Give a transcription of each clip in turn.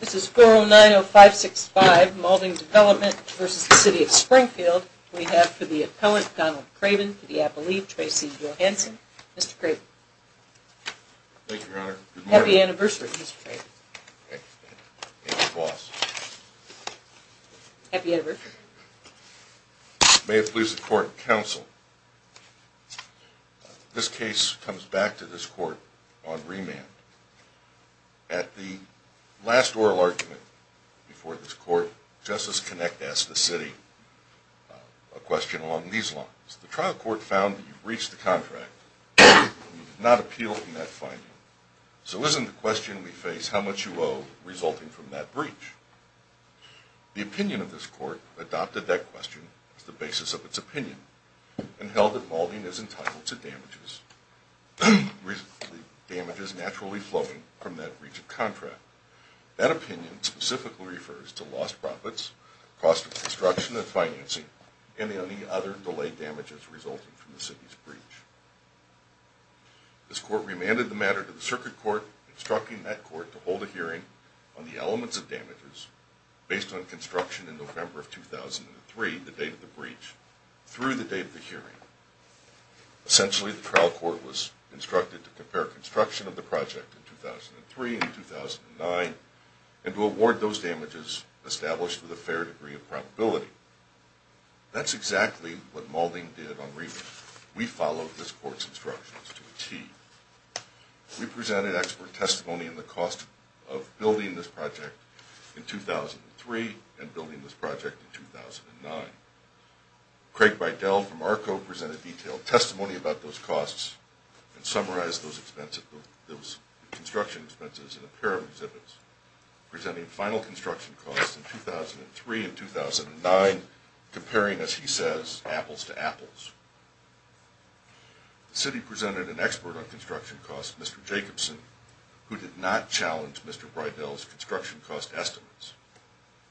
This is 4090565, Malding Development v. The City of Springfield. We have for the appellant, Donald Craven, for the appellee, Tracy Johansen. Mr. Craven. Thank you, Your Honor. Good morning. Happy anniversary, Mr. Craven. Happy anniversary. May it please the court, counsel. This case comes back to this court on remand. At the last oral argument before this court, Justice Connick asked the City a question along these lines. The trial court found that you breached the contract and you did not appeal from that finding. So isn't the question we face how much you owe resulting from that breach? The opinion of this court adopted that question as the basis of its opinion and held that Malding is entitled to damages naturally flowing from that breach of contract. That opinion specifically refers to lost profits, cost of construction and financing, and any other delayed damages resulting from the City's breach. This court remanded the matter to the Circuit Court, instructing that court to hold a hearing on the elements of damages based on construction in November of 2003, the date of the breach, through the date of the hearing. Essentially, the trial court was instructed to compare construction of the project in 2003 and 2009 and to award those damages established with a fair degree of probability. That's exactly what Malding did on remand. We followed this court's instructions to a T. We presented expert testimony in the cost of building this project in 2003 and building this project in 2009. Craig Bridell from ARCO presented detailed testimony about those costs and summarized those construction expenses in a pair of exhibits, presenting final construction costs in 2003 and 2009, comparing, as he says, apples to apples. The City presented an expert on construction costs, Mr. Jacobson, who did not challenge Mr. Bridell's construction cost estimates.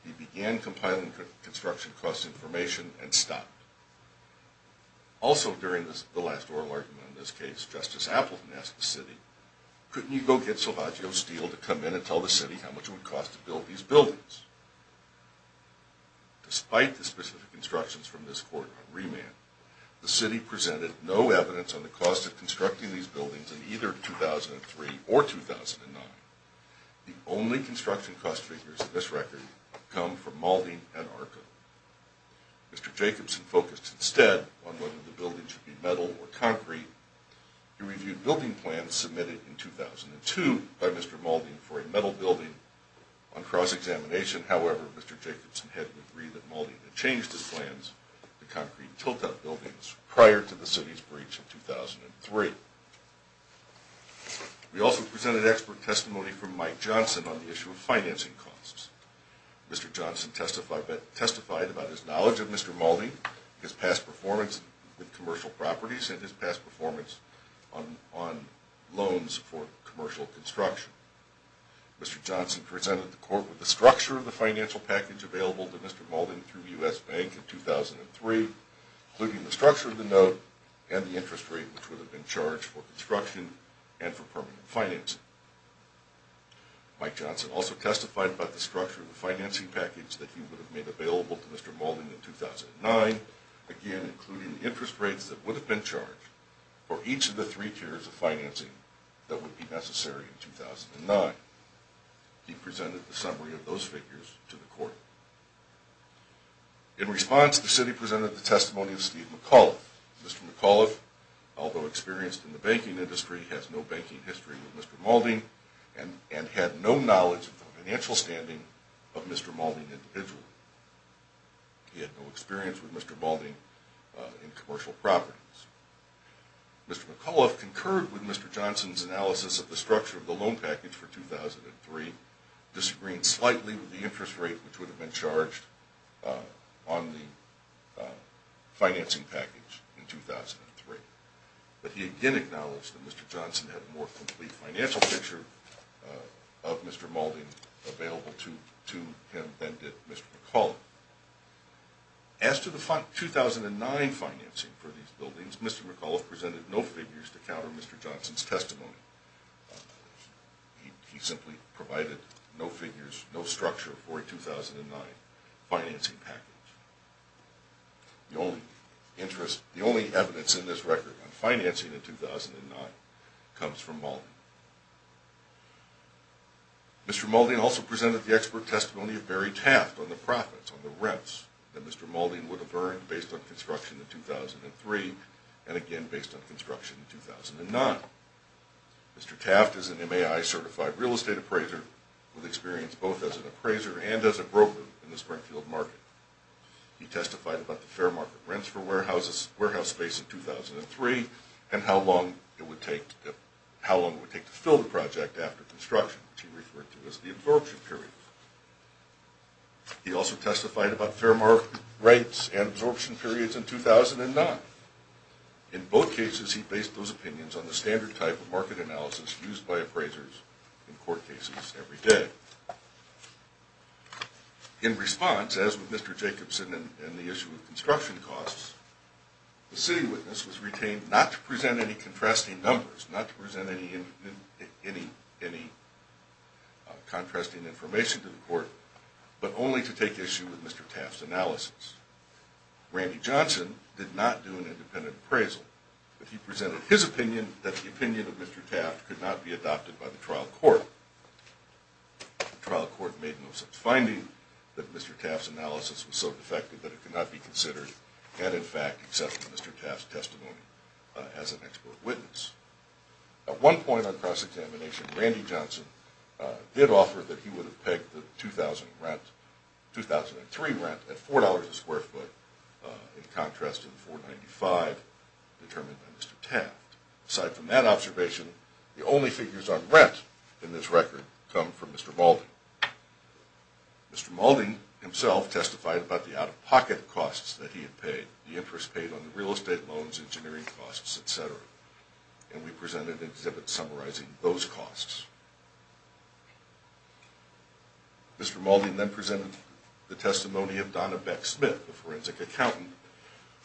He began compiling construction cost information and stopped. Also during the last oral argument on this case, Justice Appleton asked the City, couldn't you go get Silvagio Steele to come in and tell the City how much it would cost to build these buildings? Despite the specific instructions from this court on remand, the City presented no evidence on the cost of constructing these buildings in either 2003 or 2009. The only construction cost figures on this record come from Malding and ARCO. Mr. Jacobson focused instead on whether the building should be metal or concrete. He reviewed building plans submitted in 2002 by Mr. Malding for a metal building on cross-examination. However, Mr. Jacobson had to agree that Malding had changed his plans to concrete tilt-up buildings prior to the City's breach in 2003. We also presented expert testimony from Mike Johnson on the issue of financing costs. Mr. Johnson testified about his knowledge of Mr. Malding, his past performance with commercial properties, and his past performance on loans for commercial construction. Mr. Johnson presented the court with the structure of the financial package available to Mr. Malding through U.S. Bank in 2003, including the structure of the note and the interest rate which would have been charged for construction and for permanent financing. Mike Johnson also testified about the structure of the financing package that he would have made available to Mr. Malding in 2009, again including the interest rates that would have been charged for each of the three tiers of financing that would be necessary in 2009. He presented the summary of those figures to the court. In response, the City presented the testimony of Steve McAuliffe. Mr. McAuliffe, although experienced in the banking industry, has no banking history with Mr. Malding and had no knowledge of the financial standing of Mr. Malding individually. He had no experience with Mr. Malding in commercial properties. Mr. McAuliffe concurred with Mr. Johnson's analysis of the structure of the loan package for 2003, disagreeing slightly with the interest rate which would have been charged on the financing package in 2003. But he again acknowledged that Mr. Johnson had a more complete financial picture of Mr. Malding available to him than did Mr. McAuliffe. As to the 2009 financing for these buildings, Mr. McAuliffe presented no figures to counter Mr. Johnson's testimony. He simply provided no figures, no structure for a 2009 financing package. The only evidence in this record on financing in 2009 comes from Malding. Mr. Malding also presented the expert testimony of Barry Taft on the profits, on the rents that Mr. Malding would have earned based on construction in 2003 and again based on construction in 2009. Mr. Taft is an MAI certified real estate appraiser with experience both as an appraiser and as a broker in the Springfield market. He testified about the fair market rents for warehouse space in 2003 and how long it would take to fill the project after construction, which he referred to as the absorption period. He also testified about fair market rates and absorption periods in 2009. In both cases he based those opinions on the standard type of market analysis used by appraisers in court cases every day. In response, as with Mr. Jacobson and the issue of construction costs, the city witness was retained not to present any contrasting numbers, not to present any contrasting information to the court, but only to take issue with Mr. Taft's analysis. Randy Johnson did not do an independent appraisal, but he presented his opinion that the opinion of Mr. Taft could not be adopted by the trial court. The trial court made no such finding that Mr. Taft's analysis was so defective that it could not be considered and in fact accepted Mr. Taft's testimony as an expert witness. At one point on cross-examination, Randy Johnson did offer that he would have pegged the 2003 rent at $4 a square foot in contrast to the $4.95 determined by Mr. Taft. Aside from that observation, the only figures on rent in this record come from Mr. Malding. Mr. Malding himself testified about the out-of-pocket costs that he had paid, the interest paid on the real estate loans, engineering costs, etc. And we presented an exhibit summarizing those costs. Mr. Malding then presented the testimony of Donna Beck-Smith, the forensic accountant,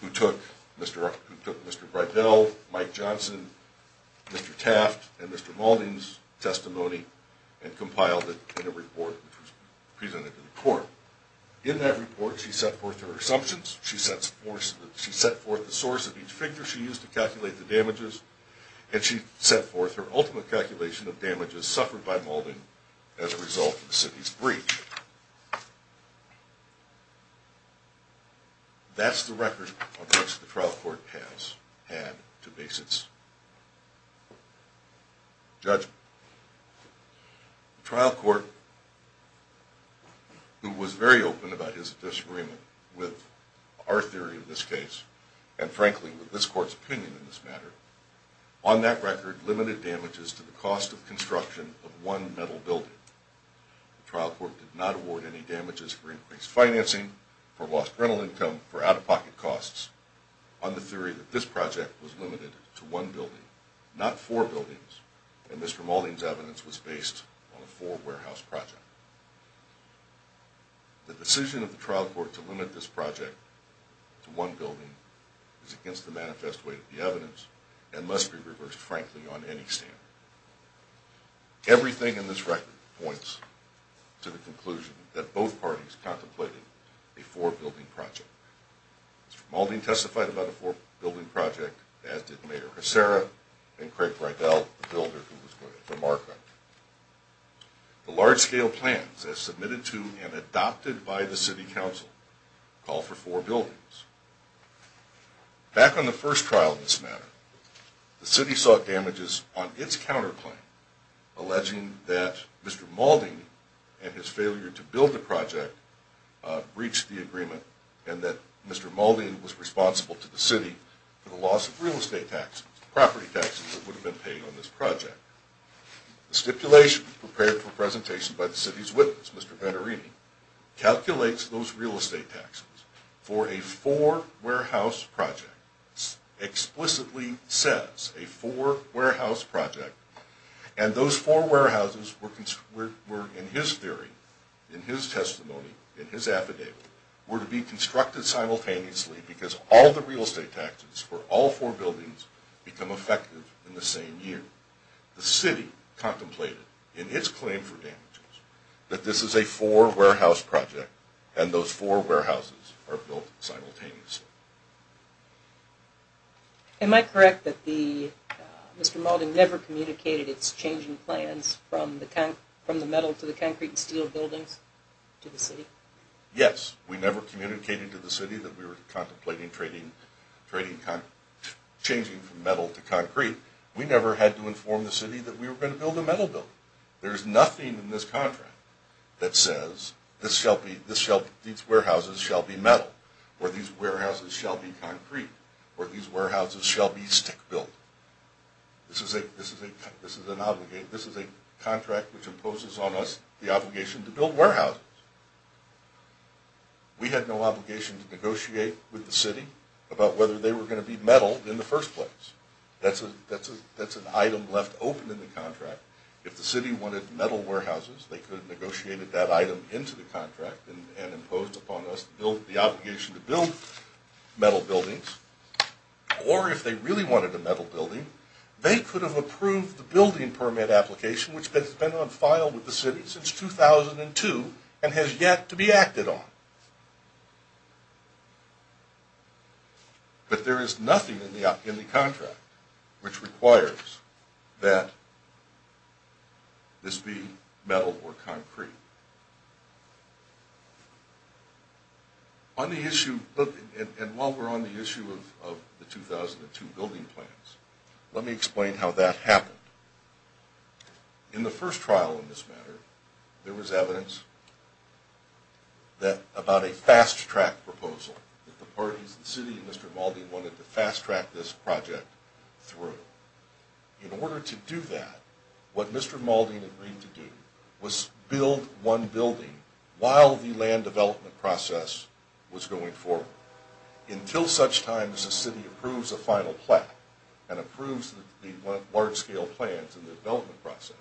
who took Mr. Breidel, Mike Johnson, Mr. Taft, and Mr. Malding's testimony and compiled it in a report which was presented to the court. In that report, she set forth her assumptions, she set forth the source of each figure she used to calculate the damages, and she set forth her ultimate calculation of damages suffered by Malding as a result of the city's breach. That's the record on which the trial court has had to base its judgment. The trial court, who was very open about his disagreement with our theory of this case, and frankly with this court's opinion in this matter, on that record limited damages to the cost of construction of one metal building. The trial court did not award any damages for increased financing, for lost rental income, for out-of-pocket costs, on the theory that this project was limited to one building, not four buildings, and Mr. Malding's evidence was based on a four-warehouse project. The decision of the trial court to limit this project to one building is against the manifest way of the evidence and must be reversed, frankly, on any stand. Everything in this record points to the conclusion that both parties contemplated a four-building project. Mr. Malding testified about a four-building project, as did Mayor Hussera and Craig Rydell, the builder who was going to mark on it. The large-scale plans as submitted to and adopted by the city council call for four buildings. Back on the first trial in this matter, the city sought damages on its counterclaim, alleging that Mr. Malding and his failure to build the project breached the agreement and that Mr. Malding was responsible to the city for the loss of real estate taxes, property taxes that would have been paid on this project. The stipulation prepared for presentation by the city's witness, Mr. Vannarini, calculates those real estate taxes for a four-warehouse project, explicitly says a four-warehouse project, and those four warehouses were, in his theory, in his testimony, in his affidavit, were to be constructed simultaneously because all the real estate taxes for all four buildings become effective in the same year. The city contemplated, in its claim for damages, that this is a four-warehouse project and those four warehouses are built simultaneously. Am I correct that Mr. Malding never communicated its changing plans from the metal to the concrete and steel buildings to the city? Mr. Malding did not inform the city that we were going to build a metal building. There is nothing in this contract that says these warehouses shall be metal or these warehouses shall be concrete or these warehouses shall be stick-built. This is a contract which imposes on us the obligation to build warehouses. We had no obligation to negotiate with the city about whether they were going to be metal in the first place. That's an item left open in the contract. If the city wanted metal warehouses, they could have negotiated that item into the contract and imposed upon us the obligation to build metal buildings. Or if they really wanted a metal building, they could have approved the building permit application which has been on file with the city since 2002 and has yet to be acted on. But there is nothing in the contract which requires that this be metal or concrete. While we're on the issue of the 2002 building plans, let me explain how that happened. In the first trial in this matter, there was evidence about a fast-track proposal that the city and Mr. Malding wanted to fast-track this project through. In order to do that, what Mr. Malding agreed to do was build one building while the land development process was going forward. Until such time as the city approves a final plan and approves the large-scale plans in the development process,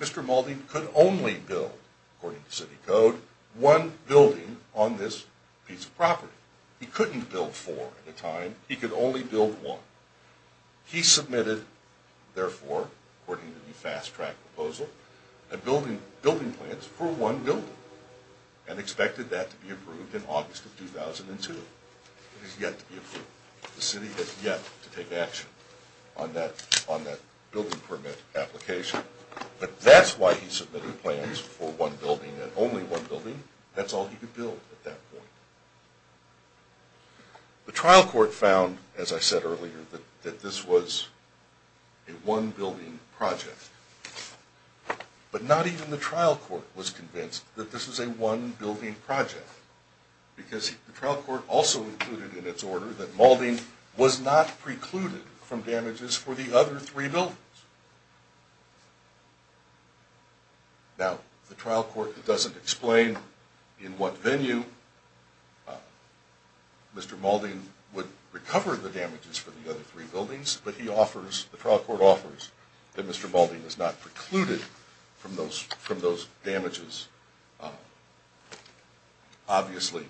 Mr. Malding could only build, according to city code, one building on this piece of property. He couldn't build four at a time. He could only build one. He submitted, therefore, according to the fast-track proposal, building plans for one building and expected that to be approved in August of 2002. It has yet to be approved. The city has yet to take action on that building permit application. But that's why he submitted plans for one building and only one building. That's all he could build at that point. The trial court found, as I said earlier, that this was a one-building project. But not even the trial court was convinced that this was a one-building project. Because the trial court also included in its order that Malding was not precluded from damages for the other three buildings. Now, the trial court doesn't explain in what venue Mr. Malding would recover the damages for the other three buildings. But the trial court offers that Mr. Malding was not precluded from those damages. Obviously,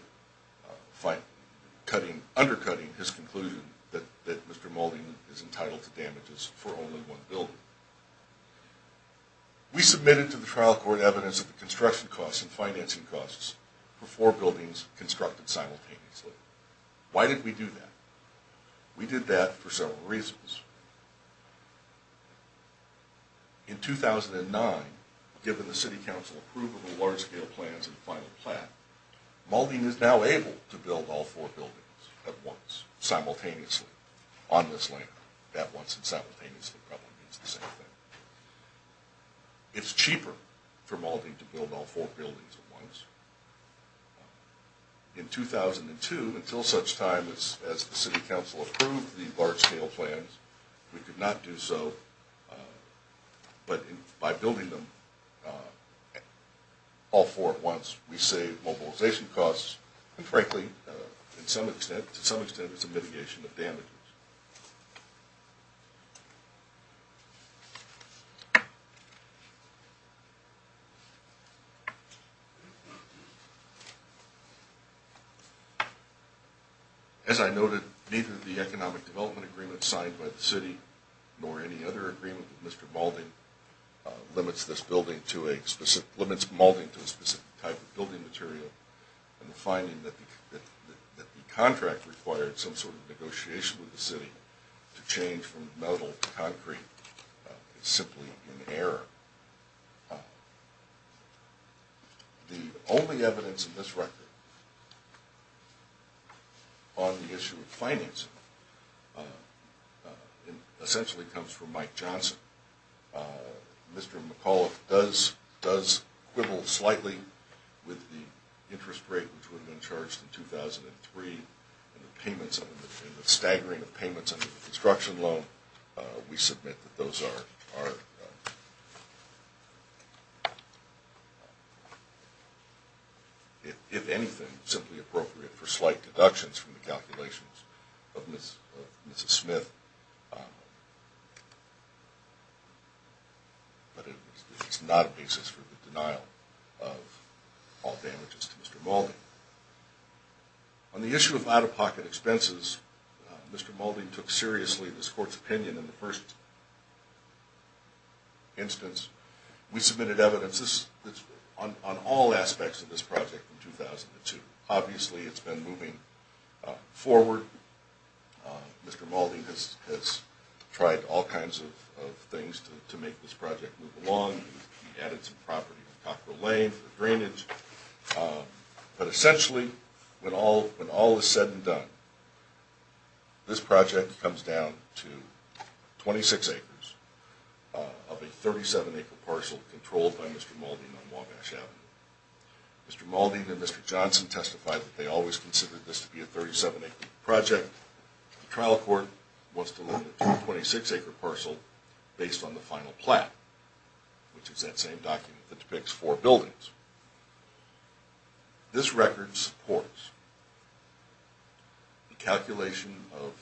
undercutting his conclusion that Mr. Malding is entitled to damages for only one building. We submitted to the trial court evidence of the construction costs and financing costs for four buildings constructed simultaneously. Why did we do that? We did that for several reasons. In 2009, given the city council approval of the large-scale plans and final plan, Malding is now able to build all four buildings at once, simultaneously, on this land. That once and simultaneously probably means the same thing. It's cheaper for Malding to build all four buildings at once. In 2002, until such time as the city council approved the large-scale plans, we could not do so. But by building them all four at once, we save mobilization costs, and frankly, to some extent, it's a mitigation of damages. As I noted, neither the economic development agreement signed by the city, nor any other agreement with Mr. Malding, limits Malding to a specific type of building material. The finding that the contract required some sort of negotiation with the city to change from metal to concrete is simply in error. The only evidence in this record on the issue of financing essentially comes from Mike Johnson. Mr. McAuliffe does quibble slightly with the interest rate, which would have been charged in 2003, and the staggering of payments under the construction loan. We submit that those are, if anything, simply appropriate for slight deductions from the calculations of Mrs. Smith. But it's not a basis for the denial of all damages to Mr. Malding. On the issue of out-of-pocket expenses, Mr. Malding took seriously this court's opinion in the first instance. We submitted evidence on all aspects of this project in 2002. Obviously, it's been moving forward. Mr. Malding has tried all kinds of things to make this project move along. He added some property on Cockrell Lane for the drainage. But essentially, when all is said and done, this project comes down to 26 acres of a 37-acre parcel controlled by Mr. Malding on Wabash Avenue. Mr. Malding and Mr. Johnson testified that they always considered this to be a 37-acre project. The trial court wants to limit it to a 26-acre parcel based on the final plan, which is that same document that depicts four buildings. This record supports the calculation of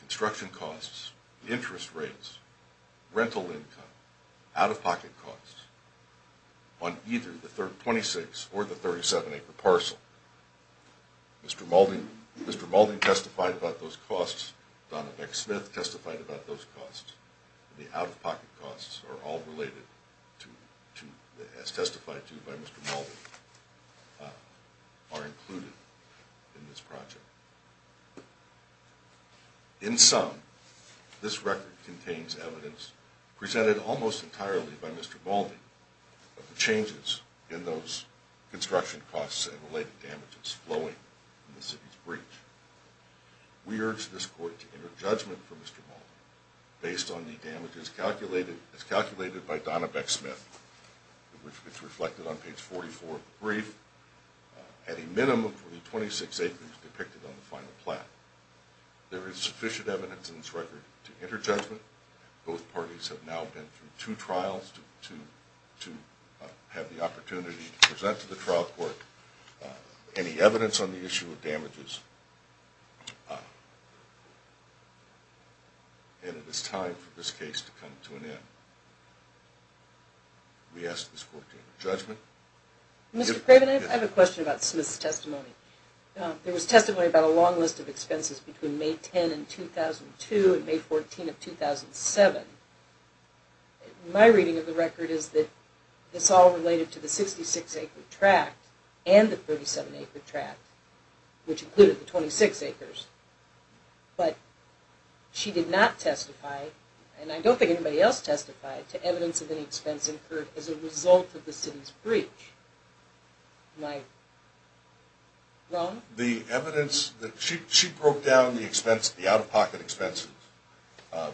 construction costs, interest rates, rental income, out-of-pocket costs on either the 26 or the 37-acre parcel. Mr. Malding testified about those costs. Donna Beck Smith testified about those costs. The out-of-pocket costs are all related, as testified to by Mr. Malding, are included in this project. In sum, this record contains evidence presented almost entirely by Mr. Malding of the changes in those construction costs and related damages flowing from the city's breach. We urge this court to enter judgment for Mr. Malding based on the damages calculated by Donna Beck Smith, which is reflected on page 44 of the brief, at a minimum for the 26 acres depicted on the final plan. There is sufficient evidence in this record to enter judgment. Both parties have now been through two trials to have the opportunity to present to the trial court any evidence on the issue of damages. And it is time for this case to come to an end. We ask this court to enter judgment. Mr. Craven, I have a question about Smith's testimony. There was testimony about a long list of expenses between May 10, 2002 and May 14, 2007. My reading of the record is that this all related to the 66-acre tract and the 37-acre tract, which included the 26 acres. But she did not testify, and I don't think anybody else testified, to evidence of any expense incurred as a result of the city's breach. Am I wrong? She broke down the out-of-pocket expenses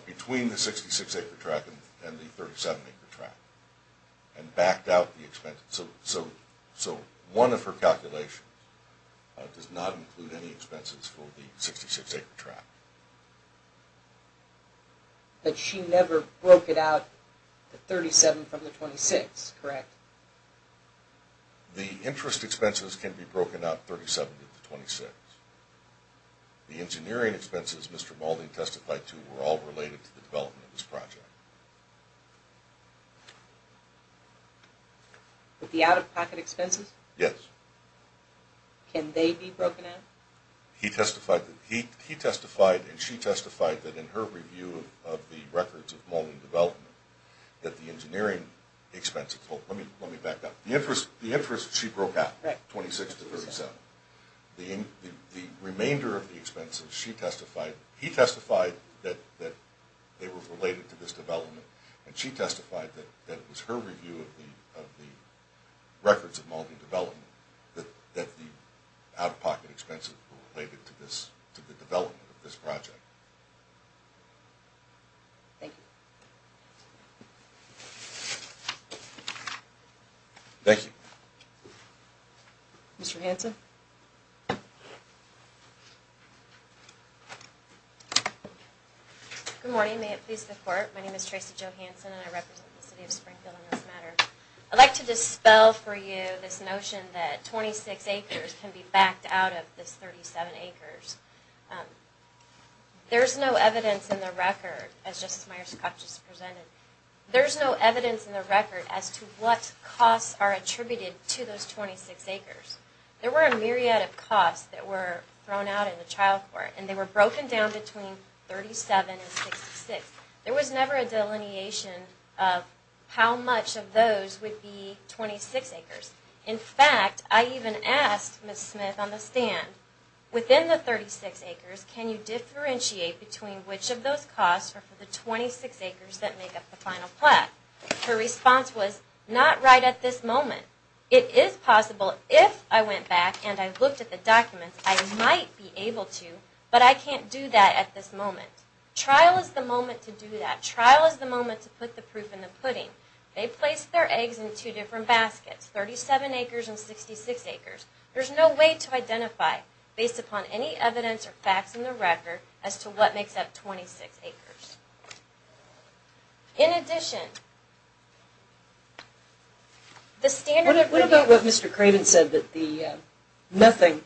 between the 66-acre tract and the 37-acre tract and backed out the expenses. So one of her calculations does not include any expenses for the 66-acre tract. But she never broke it out to 37 from the 26, correct? The interest expenses can be broken out 37 of the 26. The engineering expenses Mr. Mulding testified to were all related to the development of this project. The out-of-pocket expenses? Yes. Can they be broken out? He testified and she testified that in her review of the records of Mulding development, that the engineering expenses, let me back up. The interest she broke out, 26 to 37. The remainder of the expenses she testified, he testified that they were related to this development. And she testified that it was her review of the records of Mulding development, that the out-of-pocket expenses were related to the development of this project. Thank you. Thank you. Mr. Hanson? Good morning. May it please the Court. My name is Tracy Jo Hanson and I represent the City of Springfield on this matter. I'd like to dispel for you this notion that 26 acres can be backed out of this 37 acres. There's no evidence in the record, as Justice Myers-Koch just presented, there's no evidence in the record as to what costs are attributed to those 26 acres. There were a myriad of costs that were thrown out in the trial court and they were broken down between 37 and 66. There was never a delineation of how much of those would be 26 acres. In fact, I even asked Ms. Smith on the stand, within the 36 acres, can you differentiate between which of those costs are for the 26 acres that make up the final plaque? Her response was, not right at this moment. It is possible, if I went back and I looked at the documents, I might be able to, but I can't do that at this moment. Trial is the moment to do that. Trial is the moment to put the proof in the pudding. They placed their eggs in two different baskets, 37 acres and 66 acres. There's no way to identify, based upon any evidence or facts in the record, as to what makes up 26 acres. In addition, the standard... What about what Mr. Cramond said, that nothing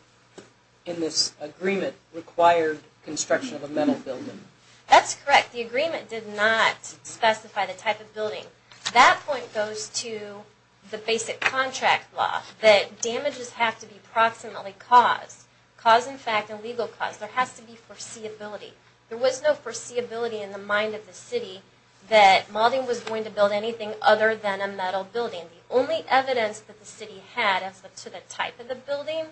in this agreement required construction of a mental building? That's correct. The agreement did not specify the type of building. That point goes to the basic contract law, that damages have to be proximately caused. Caused in fact, a legal cause. There has to be foreseeability. There was no foreseeability in the mind of the city that Malden was going to build anything other than a metal building. The only evidence that the city had as to the type of the building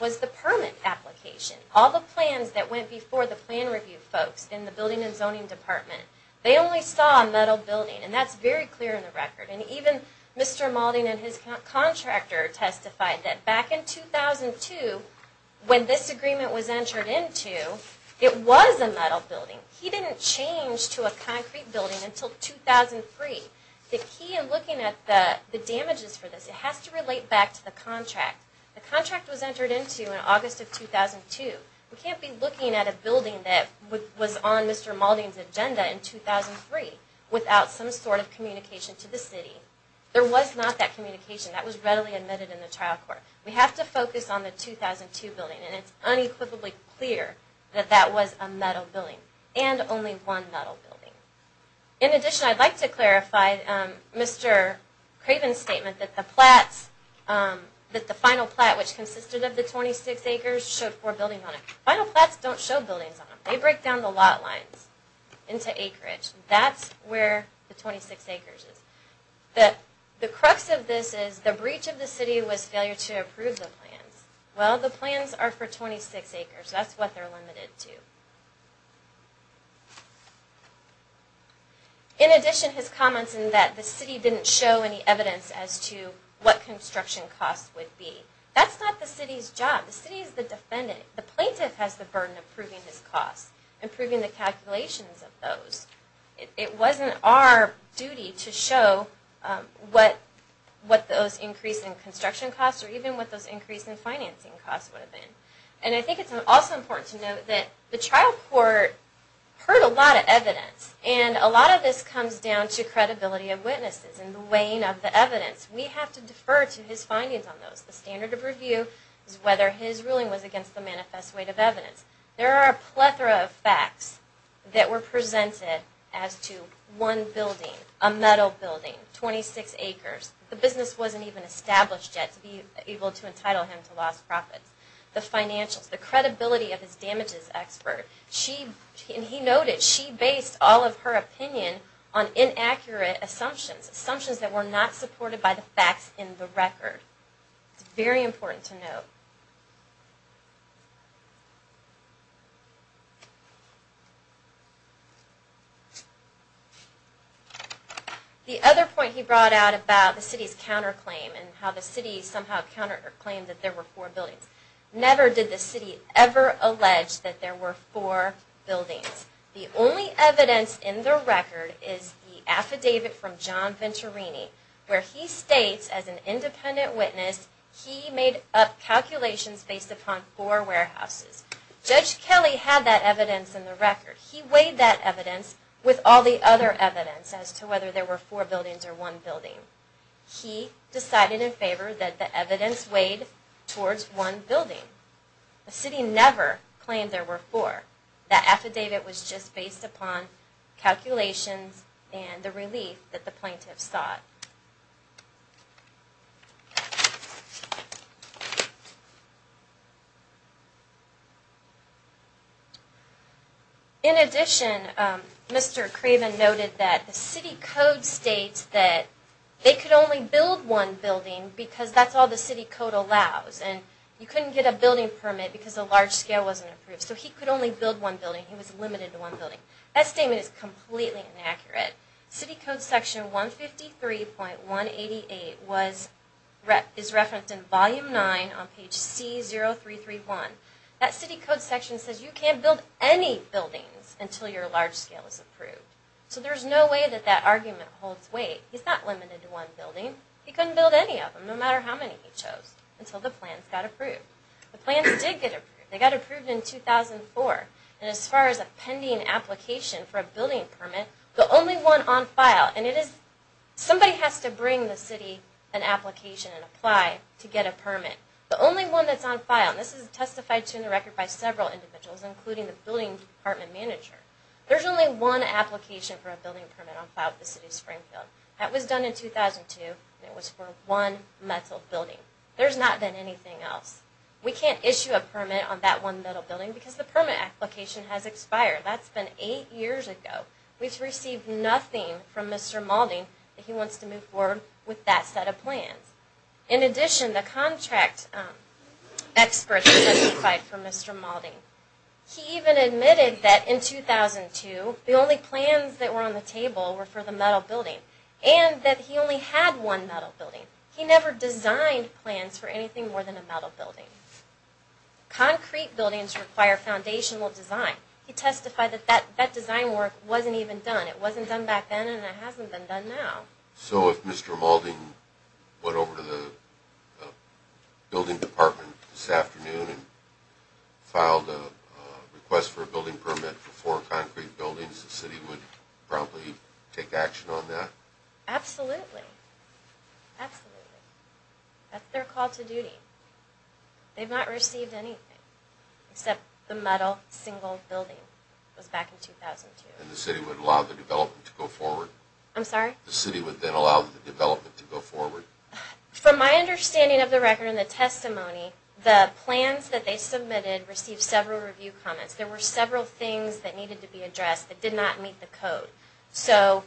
was the permit application. All the plans that went before the plan review folks in the building and zoning department, they only saw a metal building, and that's very clear in the record. And even Mr. Malden and his contractor testified that back in 2002, when this agreement was entered into, it was a metal building. He didn't change to a concrete building until 2003. The key in looking at the damages for this, it has to relate back to the contract. The contract was entered into in August of 2002. We can't be looking at a building that was on Mr. Malden's agenda in 2003 without some sort of communication to the city. There was not that communication. That was readily admitted in the trial court. We have to focus on the 2002 building, and it's unequivocally clear that that was a metal building. And only one metal building. In addition, I'd like to clarify Mr. Craven's statement that the flats, that the final flat, which consisted of the 26 acres, showed four buildings on it. Final flats don't show buildings on them. They break down the lot lines into acreage. That's where the 26 acres is. The crux of this is the breach of the city was failure to approve the plans. Well, the plans are for 26 acres. That's what they're limited to. In addition, his comments in that the city didn't show any evidence as to what construction costs would be. That's not the city's job. The city is the defendant. The plaintiff has the burden of proving his costs. Improving the calculations of those. It wasn't our duty to show what those increase in construction costs or even what those increase in financing costs would have been. And I think it's also important to note that the trial court heard a lot of evidence. And a lot of this comes down to credibility of witnesses and the weighing of the evidence. We have to defer to his findings on those. The standard of review is whether his ruling was against the manifest weight of evidence. There are a plethora of facts that were presented as to one building, a metal building, 26 acres. The business wasn't even established yet to be able to entitle him to lost profits. The financials. The credibility of his damages expert. And he noted she based all of her opinion on inaccurate assumptions. Assumptions that were not supported by the facts in the record. It's very important to note.... The other point he brought out about the city's counterclaim and how the city somehow counterclaimed that there were four buildings. Never did the city ever allege that there were four buildings. The only evidence in the record is the affidavit from John Venturini where he states as an independent witness he made up calculations based upon four buildings. Judge Kelly had that evidence in the record. He weighed that evidence with all the other evidence as to whether there were four buildings or one building. He decided in favor that the evidence weighed towards one building. The city never claimed there were four. That affidavit was just based upon calculations and the relief that the plaintiffs sought.... In addition, Mr. Craven noted that the city code states that they could only build one building because that's all the city code allows. You couldn't get a building permit because the large scale wasn't approved. So he could only build one building. He was limited to one building. That statement is completely inaccurate. City Code Section 153.188 is referenced in Volume 9 on page C0331. That city code section says you can't build any buildings until your large scale is approved. So there's no way that that argument holds weight. He's not limited to one building. He couldn't build any of them no matter how many he chose until the plans got approved. The plans did get approved. They got approved in 2004. And as far as a pending application for a building permit, the only one on file, and it is, somebody has to bring the city an application and apply to get a permit. The only one that's on file, and this is testified to in the record by several individuals including the building department manager, there's only one application for a building permit on file with the City of Springfield. That was done in 2002 and it was for one metal building. There's not been anything else. We can't issue a permit on that one metal building because the permit application has expired. That's been eight years ago. We've received nothing from Mr. Maulding that he wants to move forward with that set of plans. In addition, the contract experts testified for Mr. Maulding. He even admitted that in 2002, the only plans that were on the table were for the metal building and that he only had one metal building. He never designed plans for anything more than a metal building. Concrete buildings require foundational design. He testified that that design work wasn't even done. It wasn't done back then and it hasn't been done now. So if Mr. Maulding went over to the building department this afternoon and filed a request for a building permit for four concrete buildings, the city would probably take action on that? Absolutely. Absolutely. That's their call to duty. They've not received anything except the metal single building. It was back in 2002. And the city would allow the development to go forward? I'm sorry? The city would then allow the development to go forward? From my understanding of the record and the testimony, the plans that they submitted received several review comments. There were several things that needed to be addressed that did not meet the code. So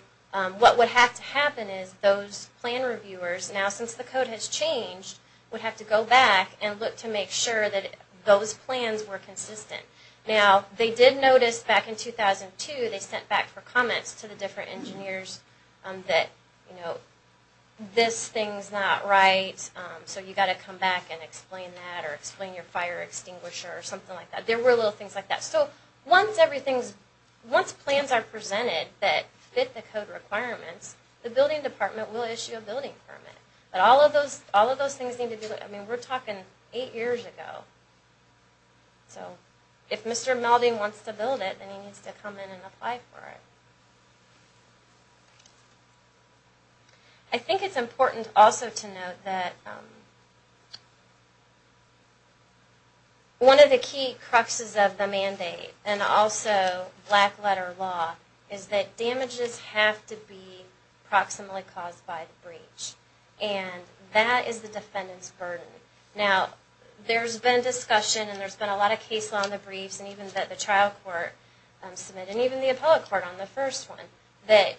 what would have to happen is those plan reviewers, now since the code has changed, would have to go back and look to make sure that those plans were consistent. Now, they did notice back in 2002 they sent back for comments to the different engineers that this thing's not right, so you've got to come back and explain that or explain your fire extinguisher or something like that. There were little things like that. So once everything's, once plans are presented that fit the code requirements, the building department will issue a building permit. But all of those things need to be, I mean we're talking eight years ago. So if Mr. Maulding wants to build it, then he needs to come in and apply for it. I think it's important also to note that one of the key cruxes of the mandate and also black letter law is that damages have to be proximally caused by the breach. And that is the defendant's burden. Now, there's been discussion and there's been a lot of case law in the briefs and even that the trial court submitted and even the appellate court on the first one that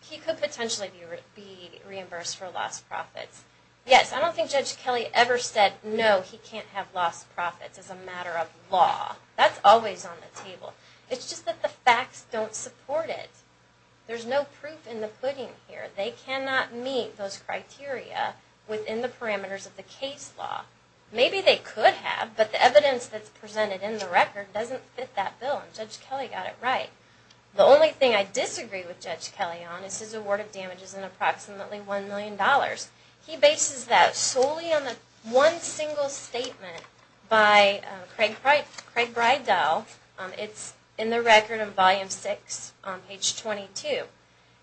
he could potentially be reimbursed for lost profits. Yes, I don't think Judge Kelly ever said no, he can't have lost profits as a matter of law. That's always on the table. It's just that the facts don't support it. There's no proof in the pudding here. They cannot meet those criteria within the parameters of the case law. Maybe they could have, but the evidence that's presented in the record doesn't fit that bill and Judge Kelly got it right. The only thing I disagree with Judge Kelly on is his award of damages in approximately $1 million. He bases that solely on the one single statement by Craig Breidel. It's in the record in Volume 6 on page 22.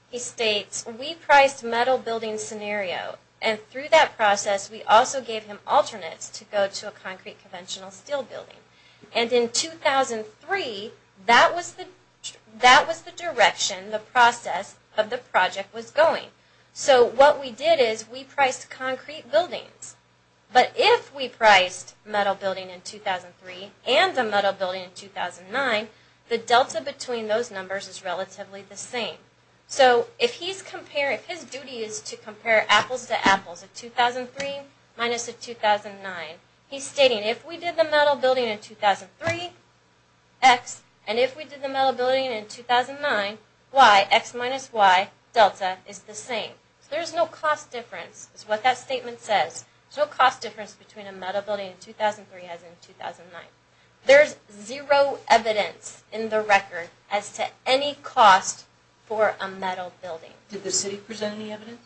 He states we priced metal building scenario and through that process we also gave him alternates to go to a concrete conventional steel building. And in 2003 that was the direction the process of the project was going. So what we did is we priced concrete buildings, but if we priced metal building in 2003 and the metal building in 2009, the delta between those numbers is relatively the same. So if his duty is to compare apples to apples, a 2003 minus a 2009, he's stating if we did the metal building in 2003, x, and if we did the metal building in 2009, y, x minus y delta is the same. So there's no cost difference is what that statement says. There's no cost difference between a metal building in 2003 as in 2009. There's zero evidence in the record as to any cost for a metal building. Did the city present any evidence?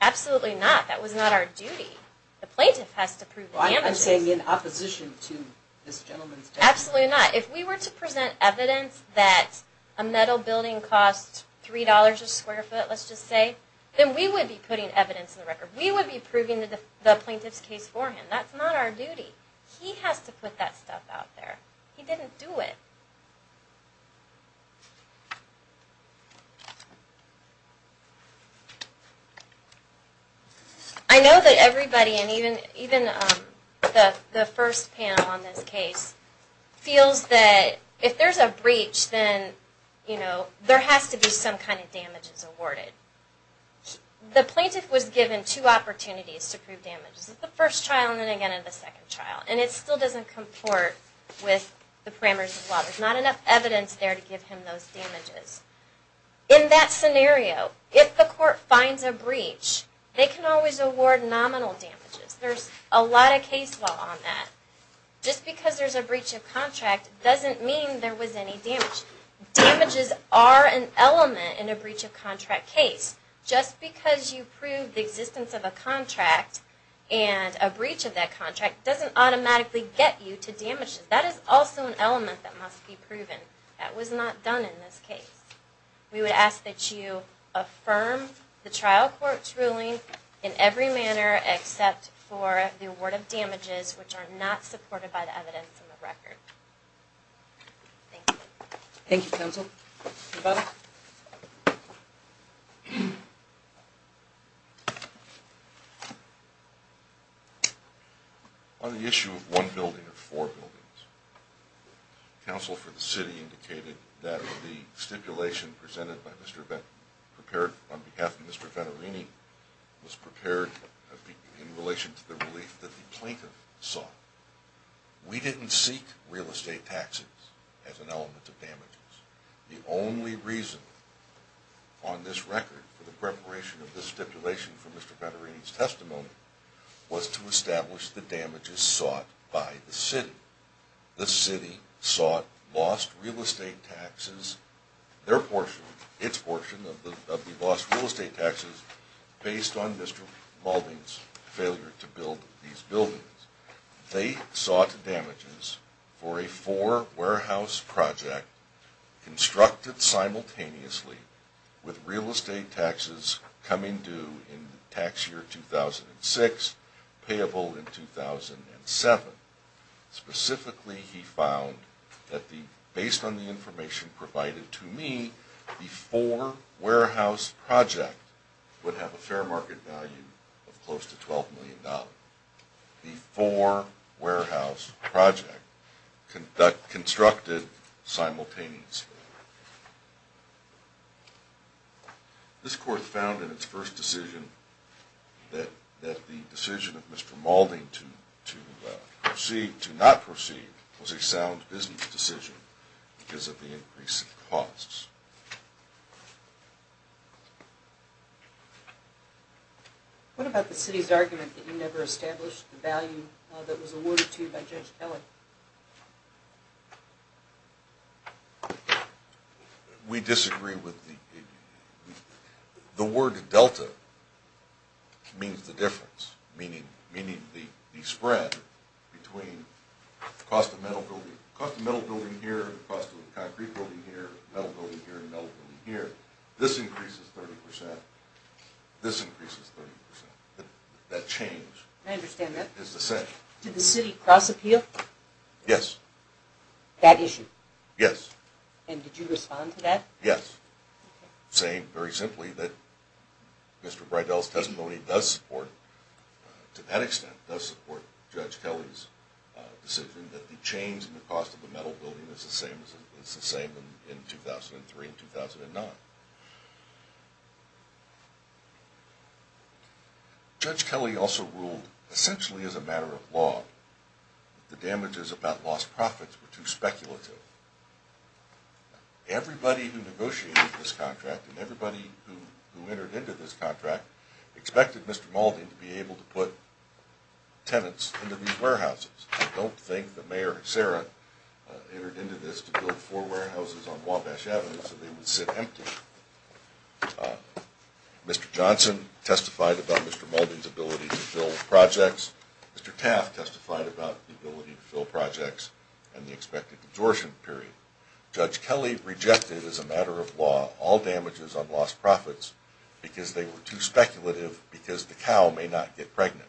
Absolutely not. That was not our duty. The plaintiff has to prove the damages. I'm saying in opposition to this gentleman's testimony. Absolutely not. If we were to present evidence that a metal building cost $3 a square foot, let's just say, then we would be putting evidence in the record. We would be proving the plaintiff's case for him. That's not our duty. He has to put that stuff out there. He didn't do it. I know that everybody and even the first panel on this case feels that if there's a breach then there has to be some kind of damages awarded. The plaintiff was given two opportunities to prove damages. The first trial and then again in the second trial. And it still doesn't comport with the parameters of law. There's not enough evidence there to give him those damages. In that scenario, if the court finds a breach, they can always award nominal damages. There's a lot of case law on that. Just because there's a breach of contract doesn't mean there was any damage. Damages are an element in a breach of contract case. Just because you prove the existence of a contract and a breach of that contract doesn't automatically get you to damages. That is also an element that must be proven. That was not done in this case. We would ask that you affirm the trial court's ruling in every manner except for the award of damages which are not supported by the evidence in the record. Thank you. Thank you counsel. On the issue of one building or four buildings, counsel for the city indicated that the stipulation presented by Mr. Vetterini prepared on behalf of Mr. Vetterini was prepared in relation to the relief that the plaintiff sought. We didn't seek real estate taxes as an element of damages. The only reason on this record for the preparation of this stipulation for Mr. Vetterini's testimony was to establish the damages sought by the city. The city sought lost real estate taxes their portion, its portion of the lost real estate taxes based on Mr. Mauldin's failure to build these buildings. They sought damages for a four warehouse project constructed simultaneously with real estate taxes coming due in the tax year 2006, payable in 2007. Specifically he found that based on the information provided to me, the four warehouse project would have a fair market value of close to $12 million. The four warehouse project constructed simultaneously. This court found in its first decision that the decision of Mr. Mauldin to proceed, to not proceed was a sound business decision because of the increase in costs. What about the city's argument that you never established the value that was awarded to you by Judge Kelly? We disagree with the the word Delta means the difference, meaning the spread between the cost of metal building here and the cost of concrete building here, metal building here and metal building here. This increases 30%. This increases 30%. That change is the same. I understand that. Did the city cross appeal? Yes. That issue? Yes. And did you respond to that? Yes. Saying very simply that Mr. Bridell's testimony does support to that extent does support Judge Kelly's decision that the change in the cost of the metal building is the same as it was in 2003 and 2009. Judge Kelly also ruled essentially as a matter of law that the damages about lost profits were too speculative. Everybody who negotiated this contract and everybody who entered into this contract expected Mr. Mauldin to be able to put tenants into these warehouses. I don't think the Mayor and Sarah entered into this to build four warehouses on Wabash Avenue so they would sit empty. Mr. Johnson testified about Mr. Mauldin's ability to fill projects. Mr. Taft testified about the ability to fill projects and the expected absorption period. Judge Kelly rejected as a matter of law all damages on lost profits because they were too speculative because the cow may not get pregnant.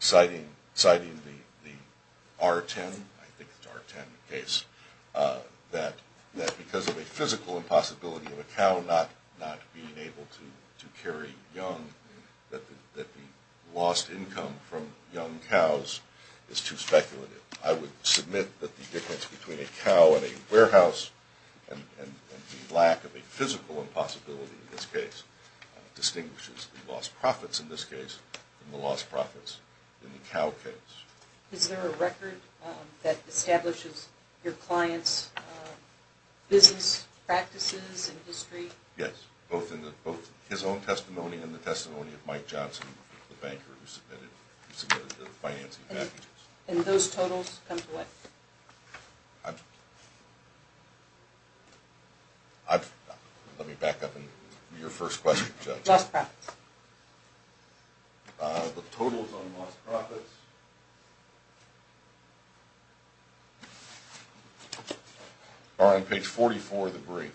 Citing the R-10, I think it's the R-10 case that because of a physical impossibility of a cow not being able to carry young that the lost income from young cows is too speculative. I would submit that the difference between a cow and a warehouse and the lack of a physical impossibility in this case distinguishes the lost profits in this case from the lost profits in the cow case. Is there a record that establishes your client's business practices and history? Yes, both his own testimony and the testimony of Mike Johnson, the banker who submitted the financing packages. And those totals come to what? Let me back up on your first question, Judge. Lost profits. The totals on lost profits are on page 44 of the brief.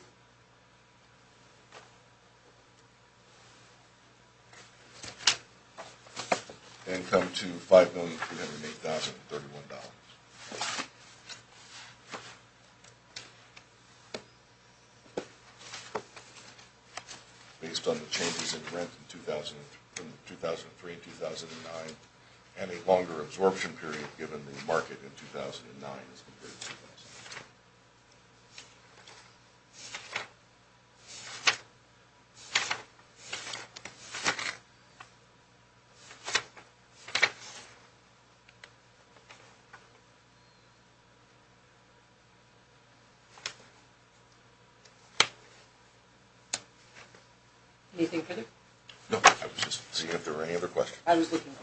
Income to $5,308,031. Based on the changes in rent from 2003 and 2009 and a longer absorption period given the market in 2009... Anything further? No, I was just seeing if there were any other questions.